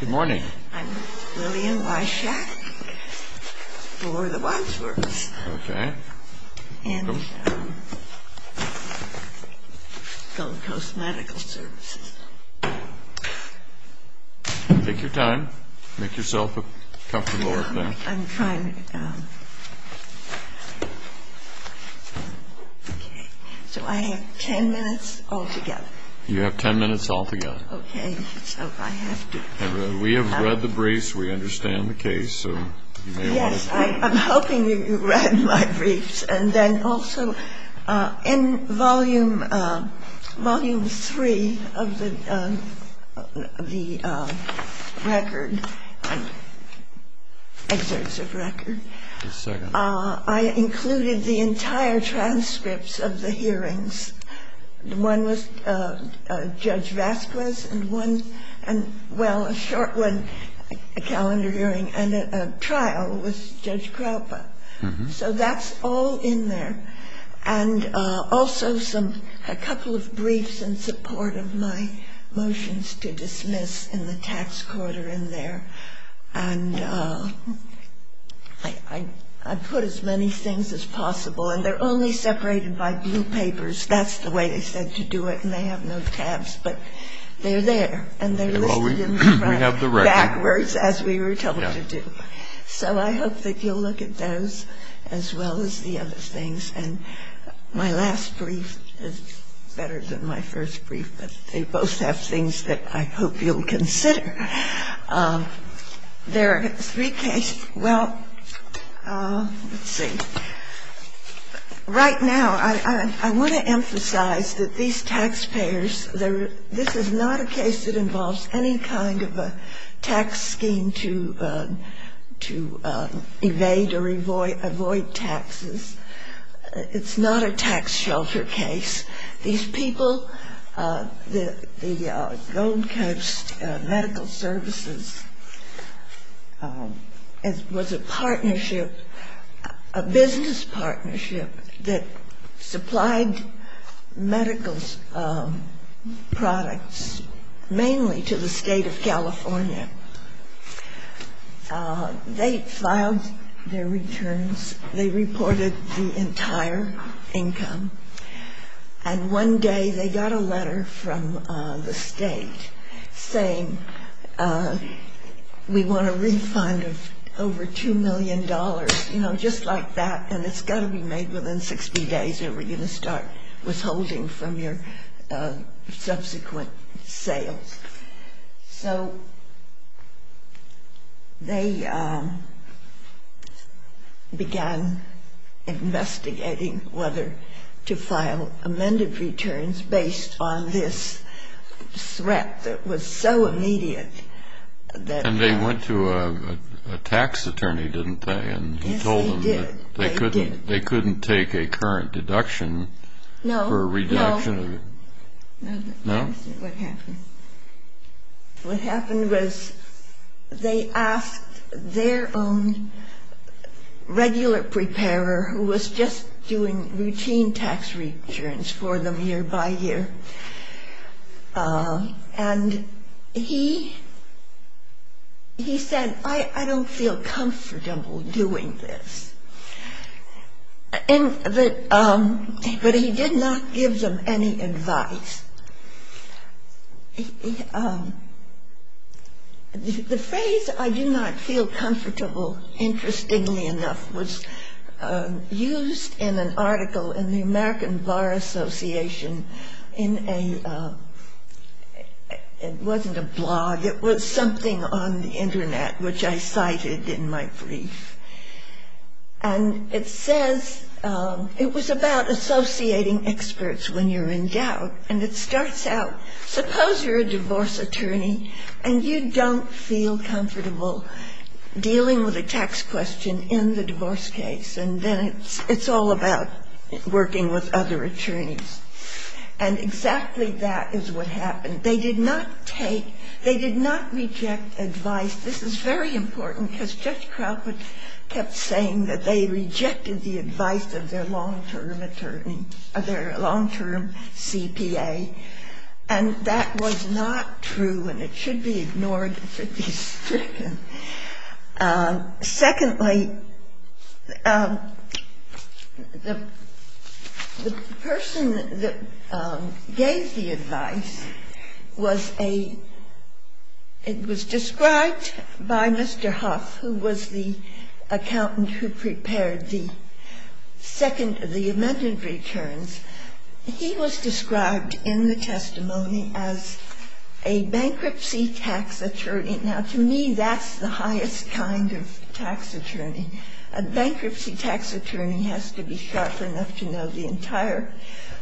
Good morning. I'm Lillian Wyshack for the Wadsworths and Gold Coast Medical Services. Take your time. Make yourself comfortable up there. I'm trying to... Okay. So I have ten minutes altogether. You have ten minutes altogether. Okay. So I have to... We have read the briefs. We understand the case. Yes. I'm hoping you read my briefs. And then also in Volume 3 of the record, exercise of record, I included the entire transcripts of the hearings. One was Judge Vasquez and one, well, a short one, a calendar hearing, and a trial was Judge Krupa. So that's all in there. And also some, a couple of briefs in support of my motions to dismiss in the tax quarter in there. And I put as many things as possible, and they're only separated by blue papers. That's the way they said to do it, and they have no tabs. But they're there, and they're listed in the front backwards as we were told to do. So I hope that you'll look at those as well as the other things. And my last brief is better than my first brief, but they both have things that I hope you'll consider. There are three cases. Well, let's see. Right now, I want to emphasize that these taxpayers, this is not a case that involves any kind of a tax scheme to evade or avoid taxes. It's not a tax shelter case. These people, the Gold Coast Medical Services was a partnership, a business partnership, that supplied medical products mainly to the state of California. They filed their returns. They reported the entire income. And one day they got a letter from the state saying we want a refund of over $2 million, you know, just like that, and it's got to be made within 60 days or we're going to start withholding from your subsequent sales. So they began investigating whether to file amended returns based on this threat that was so immediate. And they went to a tax attorney, didn't they? Yes, they did. And he told them that they couldn't take a current deduction for a reduction? No, no. No? That's what happened. What happened was they asked their own regular preparer who was just doing routine tax returns for them year by year, and he said, I don't feel comfortable doing this. But he did not give them any advice. The phrase, I do not feel comfortable, interestingly enough, was used in an article in the American Bar Association in a ‑‑ it wasn't a blog, it was something on the Internet which I cited in my brief. And it says ‑‑ it was about associating experts when you're in doubt, and it starts out, suppose you're a divorce attorney and you don't feel comfortable dealing with a tax question in the divorce case, and then it's all about working with other attorneys. And exactly that is what happened. They did not take ‑‑ they did not reject advice. This is very important because Judge Crawford kept saying that they rejected the advice of their long‑term attorney, of their long‑term CPA, and that was not true, and it should be ignored if it is stricken. Secondly, the person that gave the advice was a ‑‑ it was described by Mr. Huff, who was the accountant who prepared the second ‑‑ the amended returns. He was described in the testimony as a bankruptcy tax attorney. Now, to me, that's the highest kind of tax attorney. A bankruptcy tax attorney has to be sharp enough to know the entire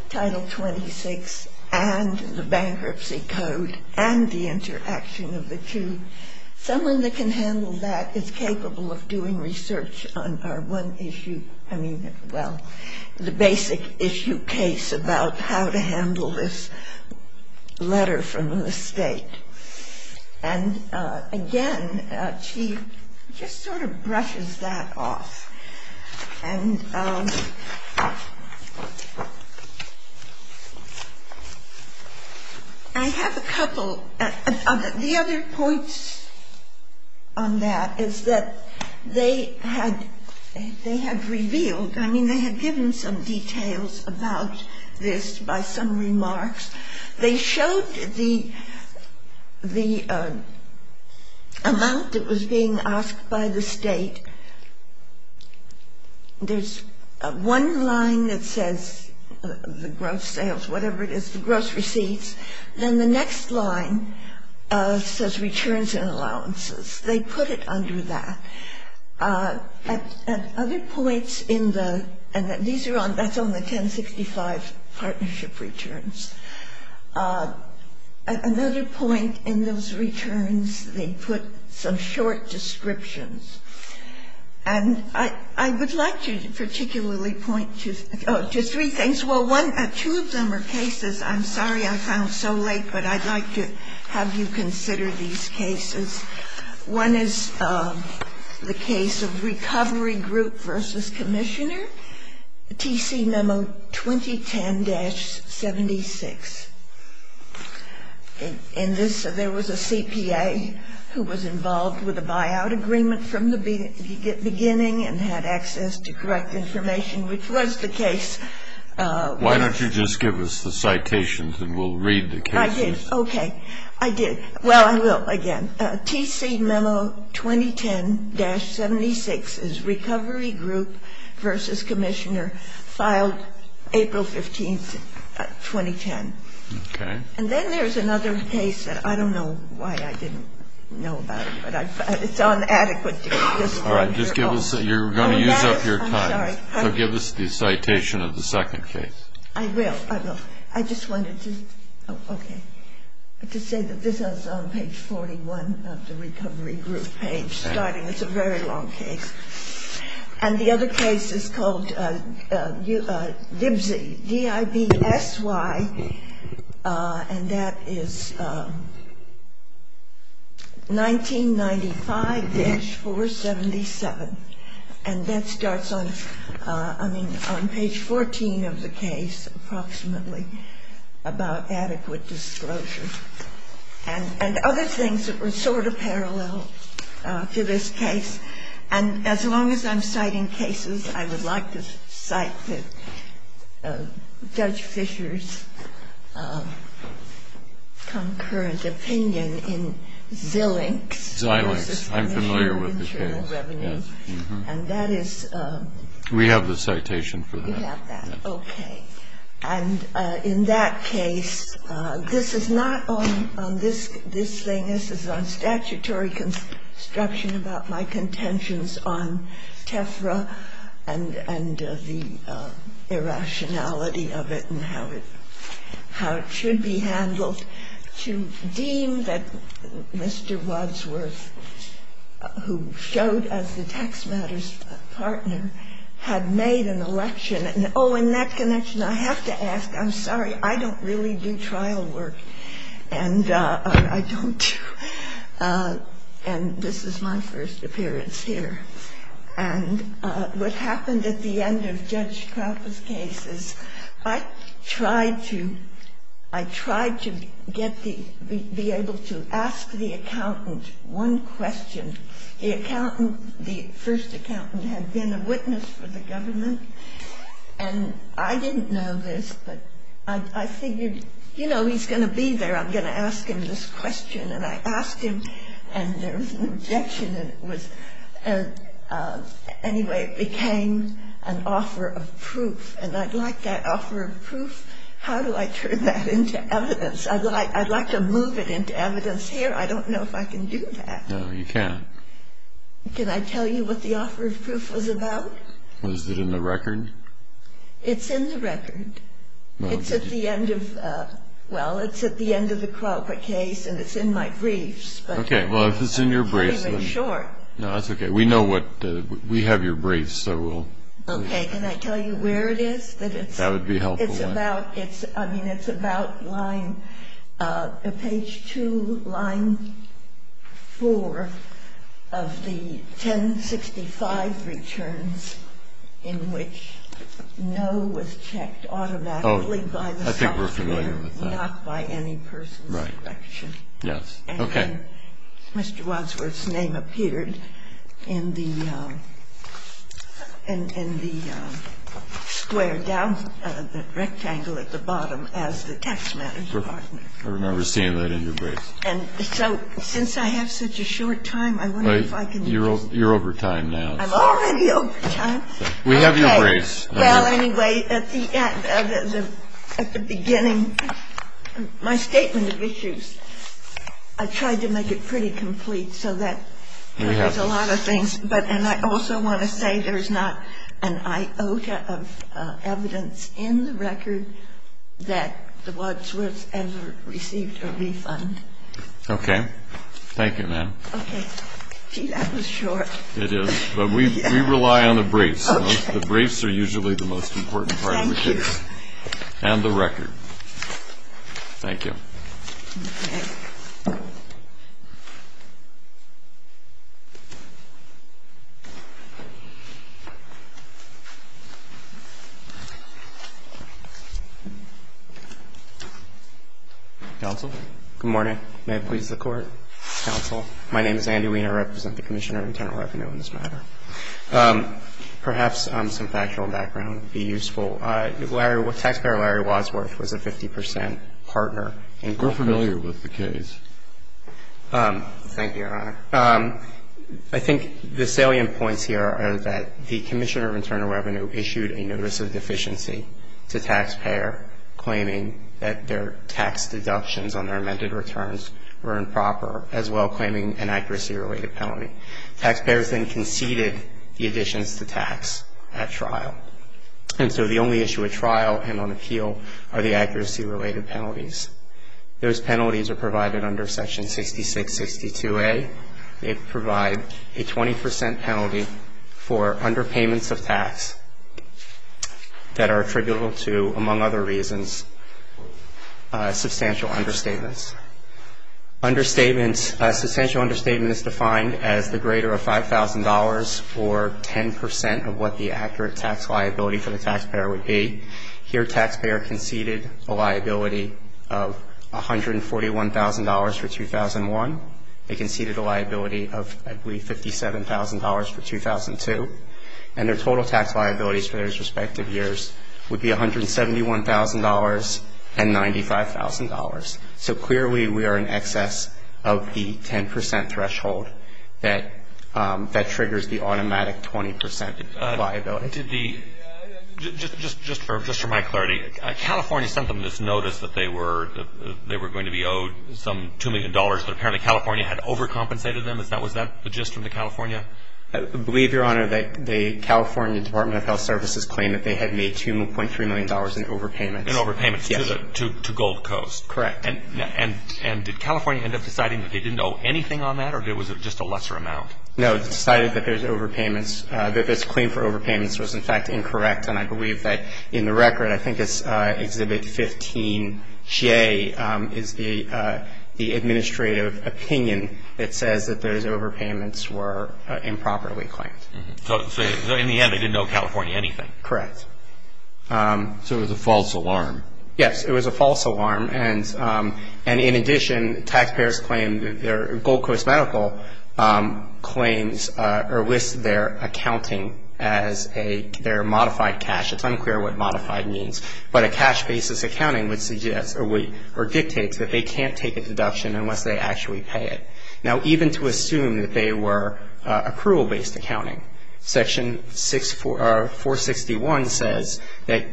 Title 26 and the Bankruptcy Code and the interaction of the two. Someone that can handle that is capable of doing research on our one issue, I mean, well, the basic issue case about how to handle this letter from the state. And again, she just sort of brushes that off. And I have a couple of ‑‑ the other points on that is that they had revealed, I mean, they had given some details about this by some remarks. They showed the amount that was being asked by the state. There's one line that says the gross sales, whatever it is, the gross receipts, then the next line says returns and allowances. They put it under that. At other points in the ‑‑ and these are on ‑‑ that's on the 1065 partnership returns. At another point in those returns, they put some short descriptions. And I would like to particularly point to three things. Well, two of them are cases I'm sorry I found so late, but I'd like to have you consider these cases. One is the case of Recovery Group v. Commissioner, TC memo 2010-76. In this, there was a CPA who was involved with a buyout agreement from the beginning and had access to correct information, which was the case. Why don't you just give us the citations and we'll read the cases. I did. Okay. I did. Well, I will again. TC memo 2010-76 is Recovery Group v. Commissioner, filed April 15th, 2010. Okay. And then there's another case that I don't know why I didn't know about it, but it's on adequate disclosure. All right. Just give us ‑‑ you're going to use up your time. I'm sorry. So give us the citation of the second case. I will. I will. Okay. I have to say that this is on page 41 of the Recovery Group page, starting. It's a very long case. And the other case is called DIBSY, D-I-B-S-Y, and that is 1995-477. And that starts on ‑‑ I mean, on page 14 of the case approximately about adequate disclosure and other things that were sort of parallel to this case. And as long as I'm citing cases, I would like to cite Judge Fischer's concurrent opinion in Zillinks. Zillinks. Zillinks. I'm familiar with the case. And that is ‑‑ We have the citation for that. We have that. Okay. And in that case, this is not on this thing. This is on statutory construction about my contentions on TEFRA and the irrationality of it and how it should be handled. And in that connection, I have to ask, I'm sorry, I don't really do trial work. And I don't do ‑‑ and this is my first appearance here. And what happened at the end of Judge Trappe's case is I tried to ‑‑ I tried to be able to ask the accountant one question. The accountant, the first accountant, had been a witness for the government. And I didn't know this, but I figured, you know, he's going to be there. I'm going to ask him this question. And I asked him, and there was an objection. And it was ‑‑ anyway, it became an offer of proof. And I'd like that offer of proof. How do I turn that into evidence? I'd like to move it into evidence here. I don't know if I can do that. No, you can't. Can I tell you what the offer of proof was about? Was it in the record? It's in the record. It's at the end of ‑‑ well, it's at the end of the Crawford case, and it's in my briefs. Okay. Well, if it's in your briefs, then ‑‑ It's pretty much short. No, that's okay. We know what ‑‑ we have your briefs, so we'll ‑‑ Okay. Can I tell you where it is? That would be a helpful one. It's about ‑‑ I mean, it's about line ‑‑ page 2, line 4 of the 1065 returns in which no was checked automatically by the ‑‑ Oh, I think we're familiar with that. Not by any person's selection. Right. Yes. Okay. I remember seeing that in your briefs. And so, since I have such a short time, I wonder if I can just ‑‑ You're over time now. I'm already over time. We have your briefs. Okay. Well, anyway, at the beginning, my statement of issues, I tried to make it very clear. So that covers a lot of things. And I also want to say there's not an iota of evidence in the record that the Wadsworths ever received a refund. Okay. Thank you, ma'am. Okay. Gee, that was short. It is. But we rely on the briefs. Okay. The briefs are usually the most important part of the case. Thank you. And the record. Thank you. Okay. Thank you. Counsel. Good morning. May it please the Court. Counsel. My name is Andy Weiner. I represent the Commissioner of Internal Revenue in this matter. Perhaps some factual background would be useful. Taxpayer Larry Wadsworth was a 50 percent partner in ‑‑ We're familiar with the case. Thank you, Your Honor. I think the salient points here are that the Commissioner of Internal Revenue issued a notice of deficiency to taxpayer claiming that their tax deductions on their amended returns were improper, as well claiming an accuracy‑related penalty. Taxpayers then conceded the additions to tax at trial. And so the only issue at trial and on appeal are the accuracy‑related penalties. Those penalties are provided under Section 6662A. They provide a 20 percent penalty for underpayments of tax that are attributable to, among other reasons, substantial understatements. Understatements, a substantial understatement is defined as the greater of $5,000 or 10 percent of what the accurate tax liability for the taxpayer would be. Here, taxpayer conceded a liability of $141,000 for 2001. They conceded a liability of, I believe, $57,000 for 2002. And their total tax liabilities for those respective years would be $171,000 and $95,000. So clearly we are in excess of the 10 percent threshold that triggers the automatic 20 percent liability. Did the ‑‑just for my clarity, California sent them this notice that they were going to be owed some $2 million, but apparently California had overcompensated them? Was that the gist from the California? I believe, Your Honor, that the California Department of Health Services claimed that they had made $2.3 million in overpayments. In overpayments. Yes. To Gold Coast. Correct. And did California end up deciding that they didn't owe anything on that, or was it just a lesser amount? No. They decided that there's overpayments, that this claim for overpayments was, in fact, incorrect. And I believe that in the record, I think it's Exhibit 15J, is the administrative opinion that says that those overpayments were improperly claimed. So in the end they didn't owe California anything. Correct. So it was a false alarm. Yes. It was a false alarm. And in addition, taxpayers claimed that their Gold Coast Medical claims or listed their accounting as their modified cash. It's unclear what modified means. But a cash‑basis accounting dictates that they can't take a deduction unless they actually pay it. Now, even to assume that they were accrual‑based accounting, Section 461 says that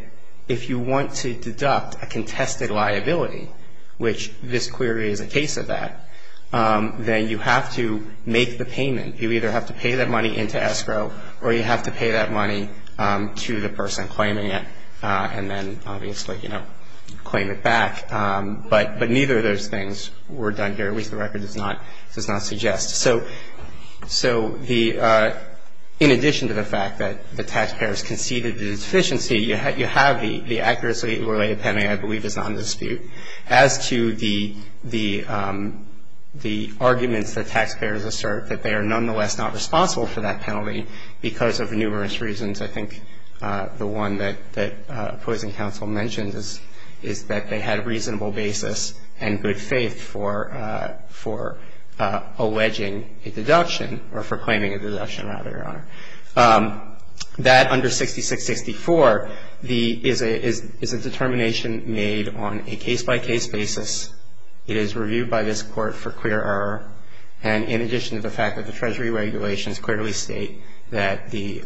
if you want to deduct a contested liability, which this query is a case of that, then you have to make the payment. You either have to pay that money into escrow, or you have to pay that money to the person claiming it and then, obviously, claim it back. But neither of those things were done here, at least the record does not suggest. So the ‑‑ in addition to the fact that the taxpayers conceded the deficiency, you have the accuracy‑related penalty, I believe, as non‑dispute. As to the arguments that taxpayers assert that they are nonetheless not responsible for that penalty because of numerous reasons, I think the one that opposing counsel mentioned is that they had a reasonable basis and good faith for alleging a deduction, or for claiming a deduction, rather, Your Honor. That, under 6664, is a determination made on a case‑by‑case basis. It is reviewed by this Court for clear error. And in addition to the fact that the Treasury regulations clearly state that the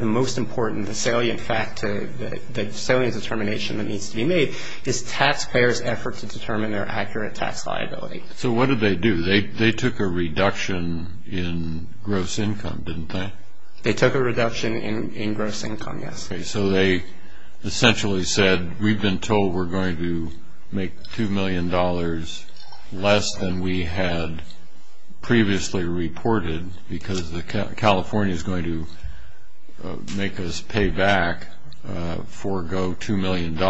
most important, the salient fact, the salient determination that needs to be made is taxpayers' effort to determine their accurate tax liability. So what did they do? They took a reduction in gross income, didn't they? They took a reduction in gross income, yes. Okay, so they essentially said, we've been told we're going to make $2 million less than we had previously reported because California is going to make us pay back, forego $2 million,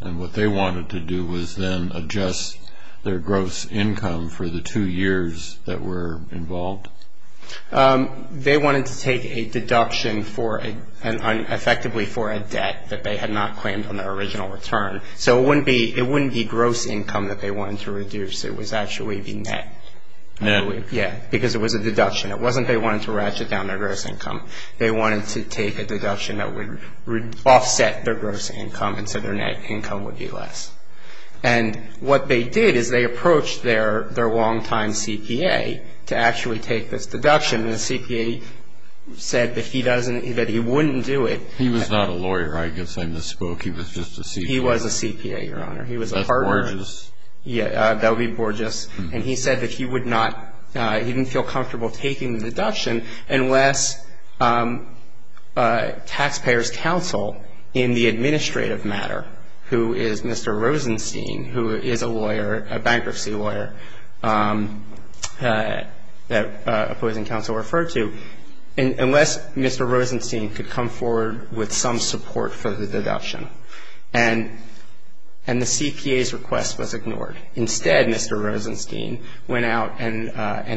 and what they wanted to do was then adjust their gross income for the two years that were involved? They wanted to take a deduction, effectively, for a debt that they had not claimed on their original return. So it wouldn't be gross income that they wanted to reduce. It was actually the net. Net? Yes, because it was a deduction. It wasn't they wanted to ratchet down their gross income. They wanted to take a deduction that would offset their gross income and so their net income would be less. And what they did is they approached their long‑time CPA to actually take this deduction, and the CPA said that he wouldn't do it. He was not a lawyer. I guess I misspoke. He was just a CPA. He was a CPA, Your Honor. He was a partner. That's gorgeous. Yes, that would be gorgeous. And he said that he would not ‑‑ he didn't feel comfortable taking the deduction unless taxpayers' counsel in the administrative matter, who is Mr. Rosenstein, who is a lawyer, a bankruptcy lawyer that opposing counsel referred to, unless Mr. Rosenstein could come forward with some support for the deduction. And the CPA's request was ignored. Instead, Mr. Rosenstein went out and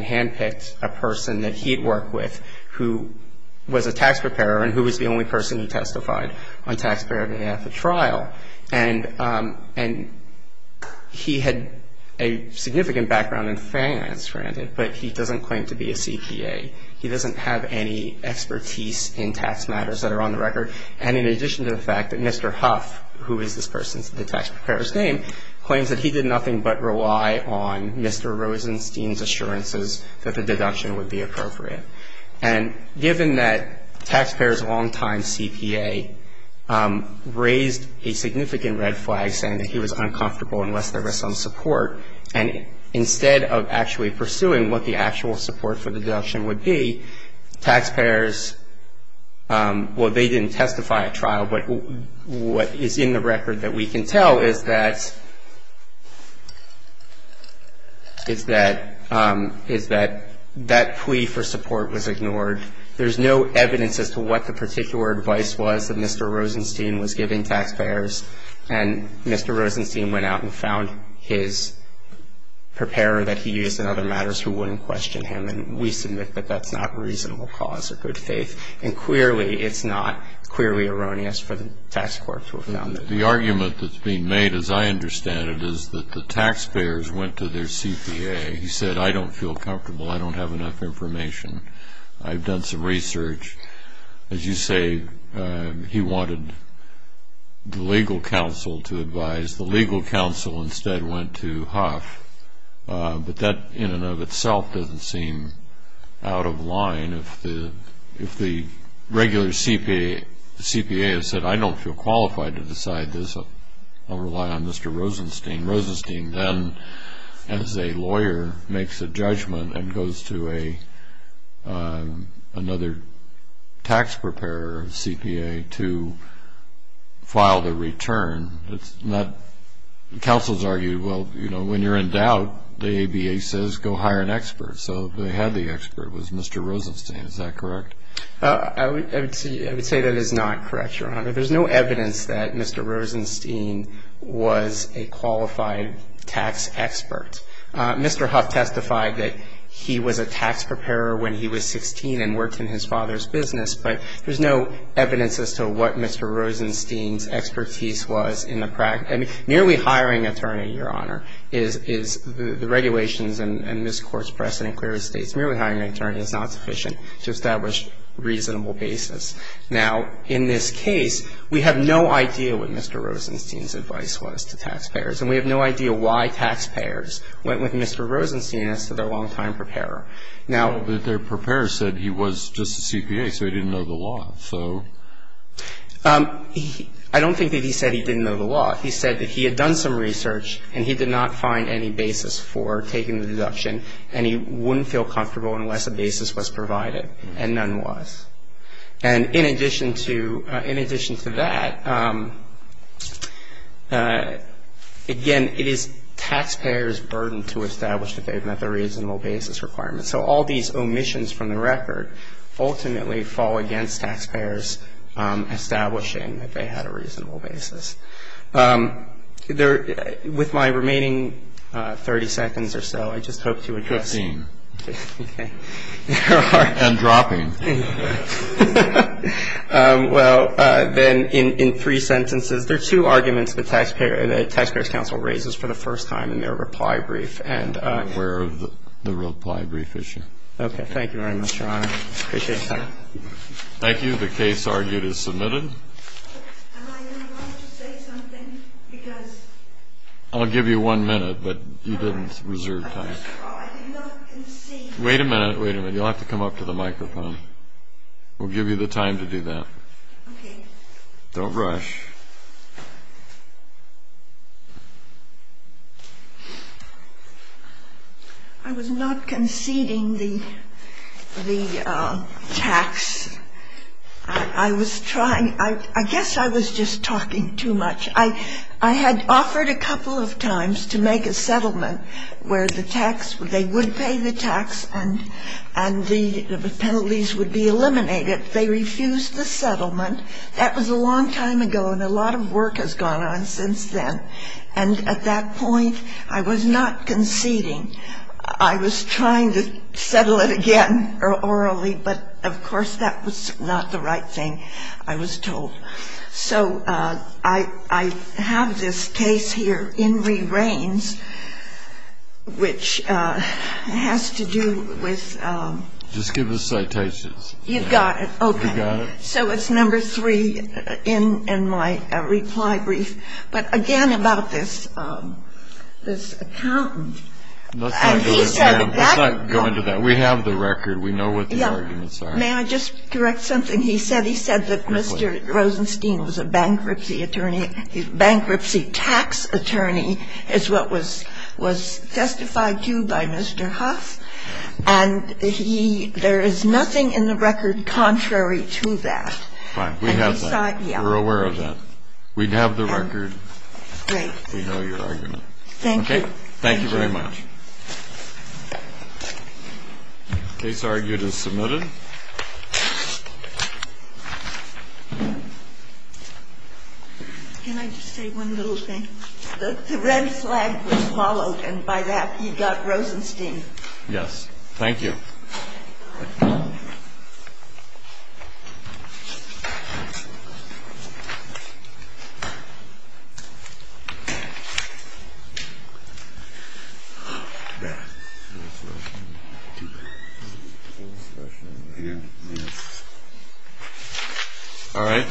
handpicked a person that he had worked with who was a tax preparer and who was the only person who testified on taxpayer day after trial. And he had a significant background in finance, granted, but he doesn't claim to be a CPA. He doesn't have any expertise in tax matters that are on the record. And in addition to the fact that Mr. Huff, who is this person's tax preparer's name, claims that he did nothing but rely on Mr. Rosenstein's assurances that the deduction would be appropriate. And given that taxpayers' longtime CPA raised a significant red flag saying that he was uncomfortable unless there was some support, and instead of actually pursuing what the actual support for the deduction would be, taxpayers, well, they didn't testify at trial, what is in the record that we can tell is that that plea for support was ignored. There's no evidence as to what the particular advice was that Mr. Rosenstein was giving taxpayers. And Mr. Rosenstein went out and found his preparer that he used in other matters who wouldn't question him. And we submit that that's not a reasonable cause of good faith. And clearly it's not clearly erroneous for the tax court to have done that. The argument that's being made, as I understand it, is that the taxpayers went to their CPA. He said, I don't feel comfortable. I don't have enough information. I've done some research. As you say, he wanted the legal counsel to advise. The legal counsel instead went to Huff. But that in and of itself doesn't seem out of line. If the regular CPA has said, I don't feel qualified to decide this, I'll rely on Mr. Rosenstein. Rosenstein then, as a lawyer, makes a judgment and goes to another tax preparer or CPA to file the return. Counsel's argue, well, you know, when you're in doubt, the ABA says go hire an expert. So they had the expert. It was Mr. Rosenstein. Is that correct? I would say that is not correct, Your Honor. There's no evidence that Mr. Rosenstein was a qualified tax expert. Mr. Huff testified that he was a tax preparer when he was 16 and worked in his father's business. But there's no evidence as to what Mr. Rosenstein's expertise was in the practice. I mean, merely hiring an attorney, Your Honor, is the regulations in this Court's precedent clearly states merely hiring an attorney is not sufficient to establish reasonable basis. Now, in this case, we have no idea what Mr. Rosenstein's advice was to taxpayers. And we have no idea why taxpayers went with Mr. Rosenstein as to their long-time preparer. Well, their preparer said he was just a CPA, so he didn't know the law, so. I don't think that he said he didn't know the law. He said that he had done some research and he did not find any basis for taking the deduction and he wouldn't feel comfortable unless a basis was provided, and none was. And in addition to that, again, it is taxpayers' burden to establish that they've met the reasonable basis requirement. So all these omissions from the record ultimately fall against taxpayers establishing that they had a reasonable basis. With my remaining 30 seconds or so, I just hope to address. Fifteen. Okay. And dropping. Well, then in three sentences, there are two arguments the Taxpayers' Council raises for the first time in their reply brief. And I'm aware of the reply brief issue. Okay. Thank you very much, Your Honor. I appreciate that. Thank you. The case argued is submitted. I'll give you one minute, but you didn't reserve time. Wait a minute. Wait a minute. You'll have to come up to the microphone. We'll give you the time to do that. Okay. Don't rush. I was not conceding the tax. I was trying. I guess I was just talking too much. I had offered a couple of times to make a settlement where the tax they would pay the tax and the penalties would be eliminated. They refused the settlement. That was a long time ago, and a lot of work has gone on since then. And at that point, I was not conceding. I was trying to settle it again orally, but, of course, that was not the right thing, I was told. So I have this case here in re-reigns, which has to do with ‑‑ Just give us citations. You've got it. Okay. So it's number three in my reply brief. But, again, about this accountant. Let's not go into that. We have the record. We know what the arguments are. May I just direct something? He said that Mr. Rosenstein was a bankruptcy attorney. Bankruptcy tax attorney is what was testified to by Mr. Huff. And he ‑‑ there is nothing in the record contrary to that. Fine. We have that. We're aware of that. We have the record. Great. We know your argument. Thank you. Okay. Thank you very much. Case argued as submitted. Can I just say one little thing? The red flag was followed and by that he got Rosenstein. Yes. Thank you. All right.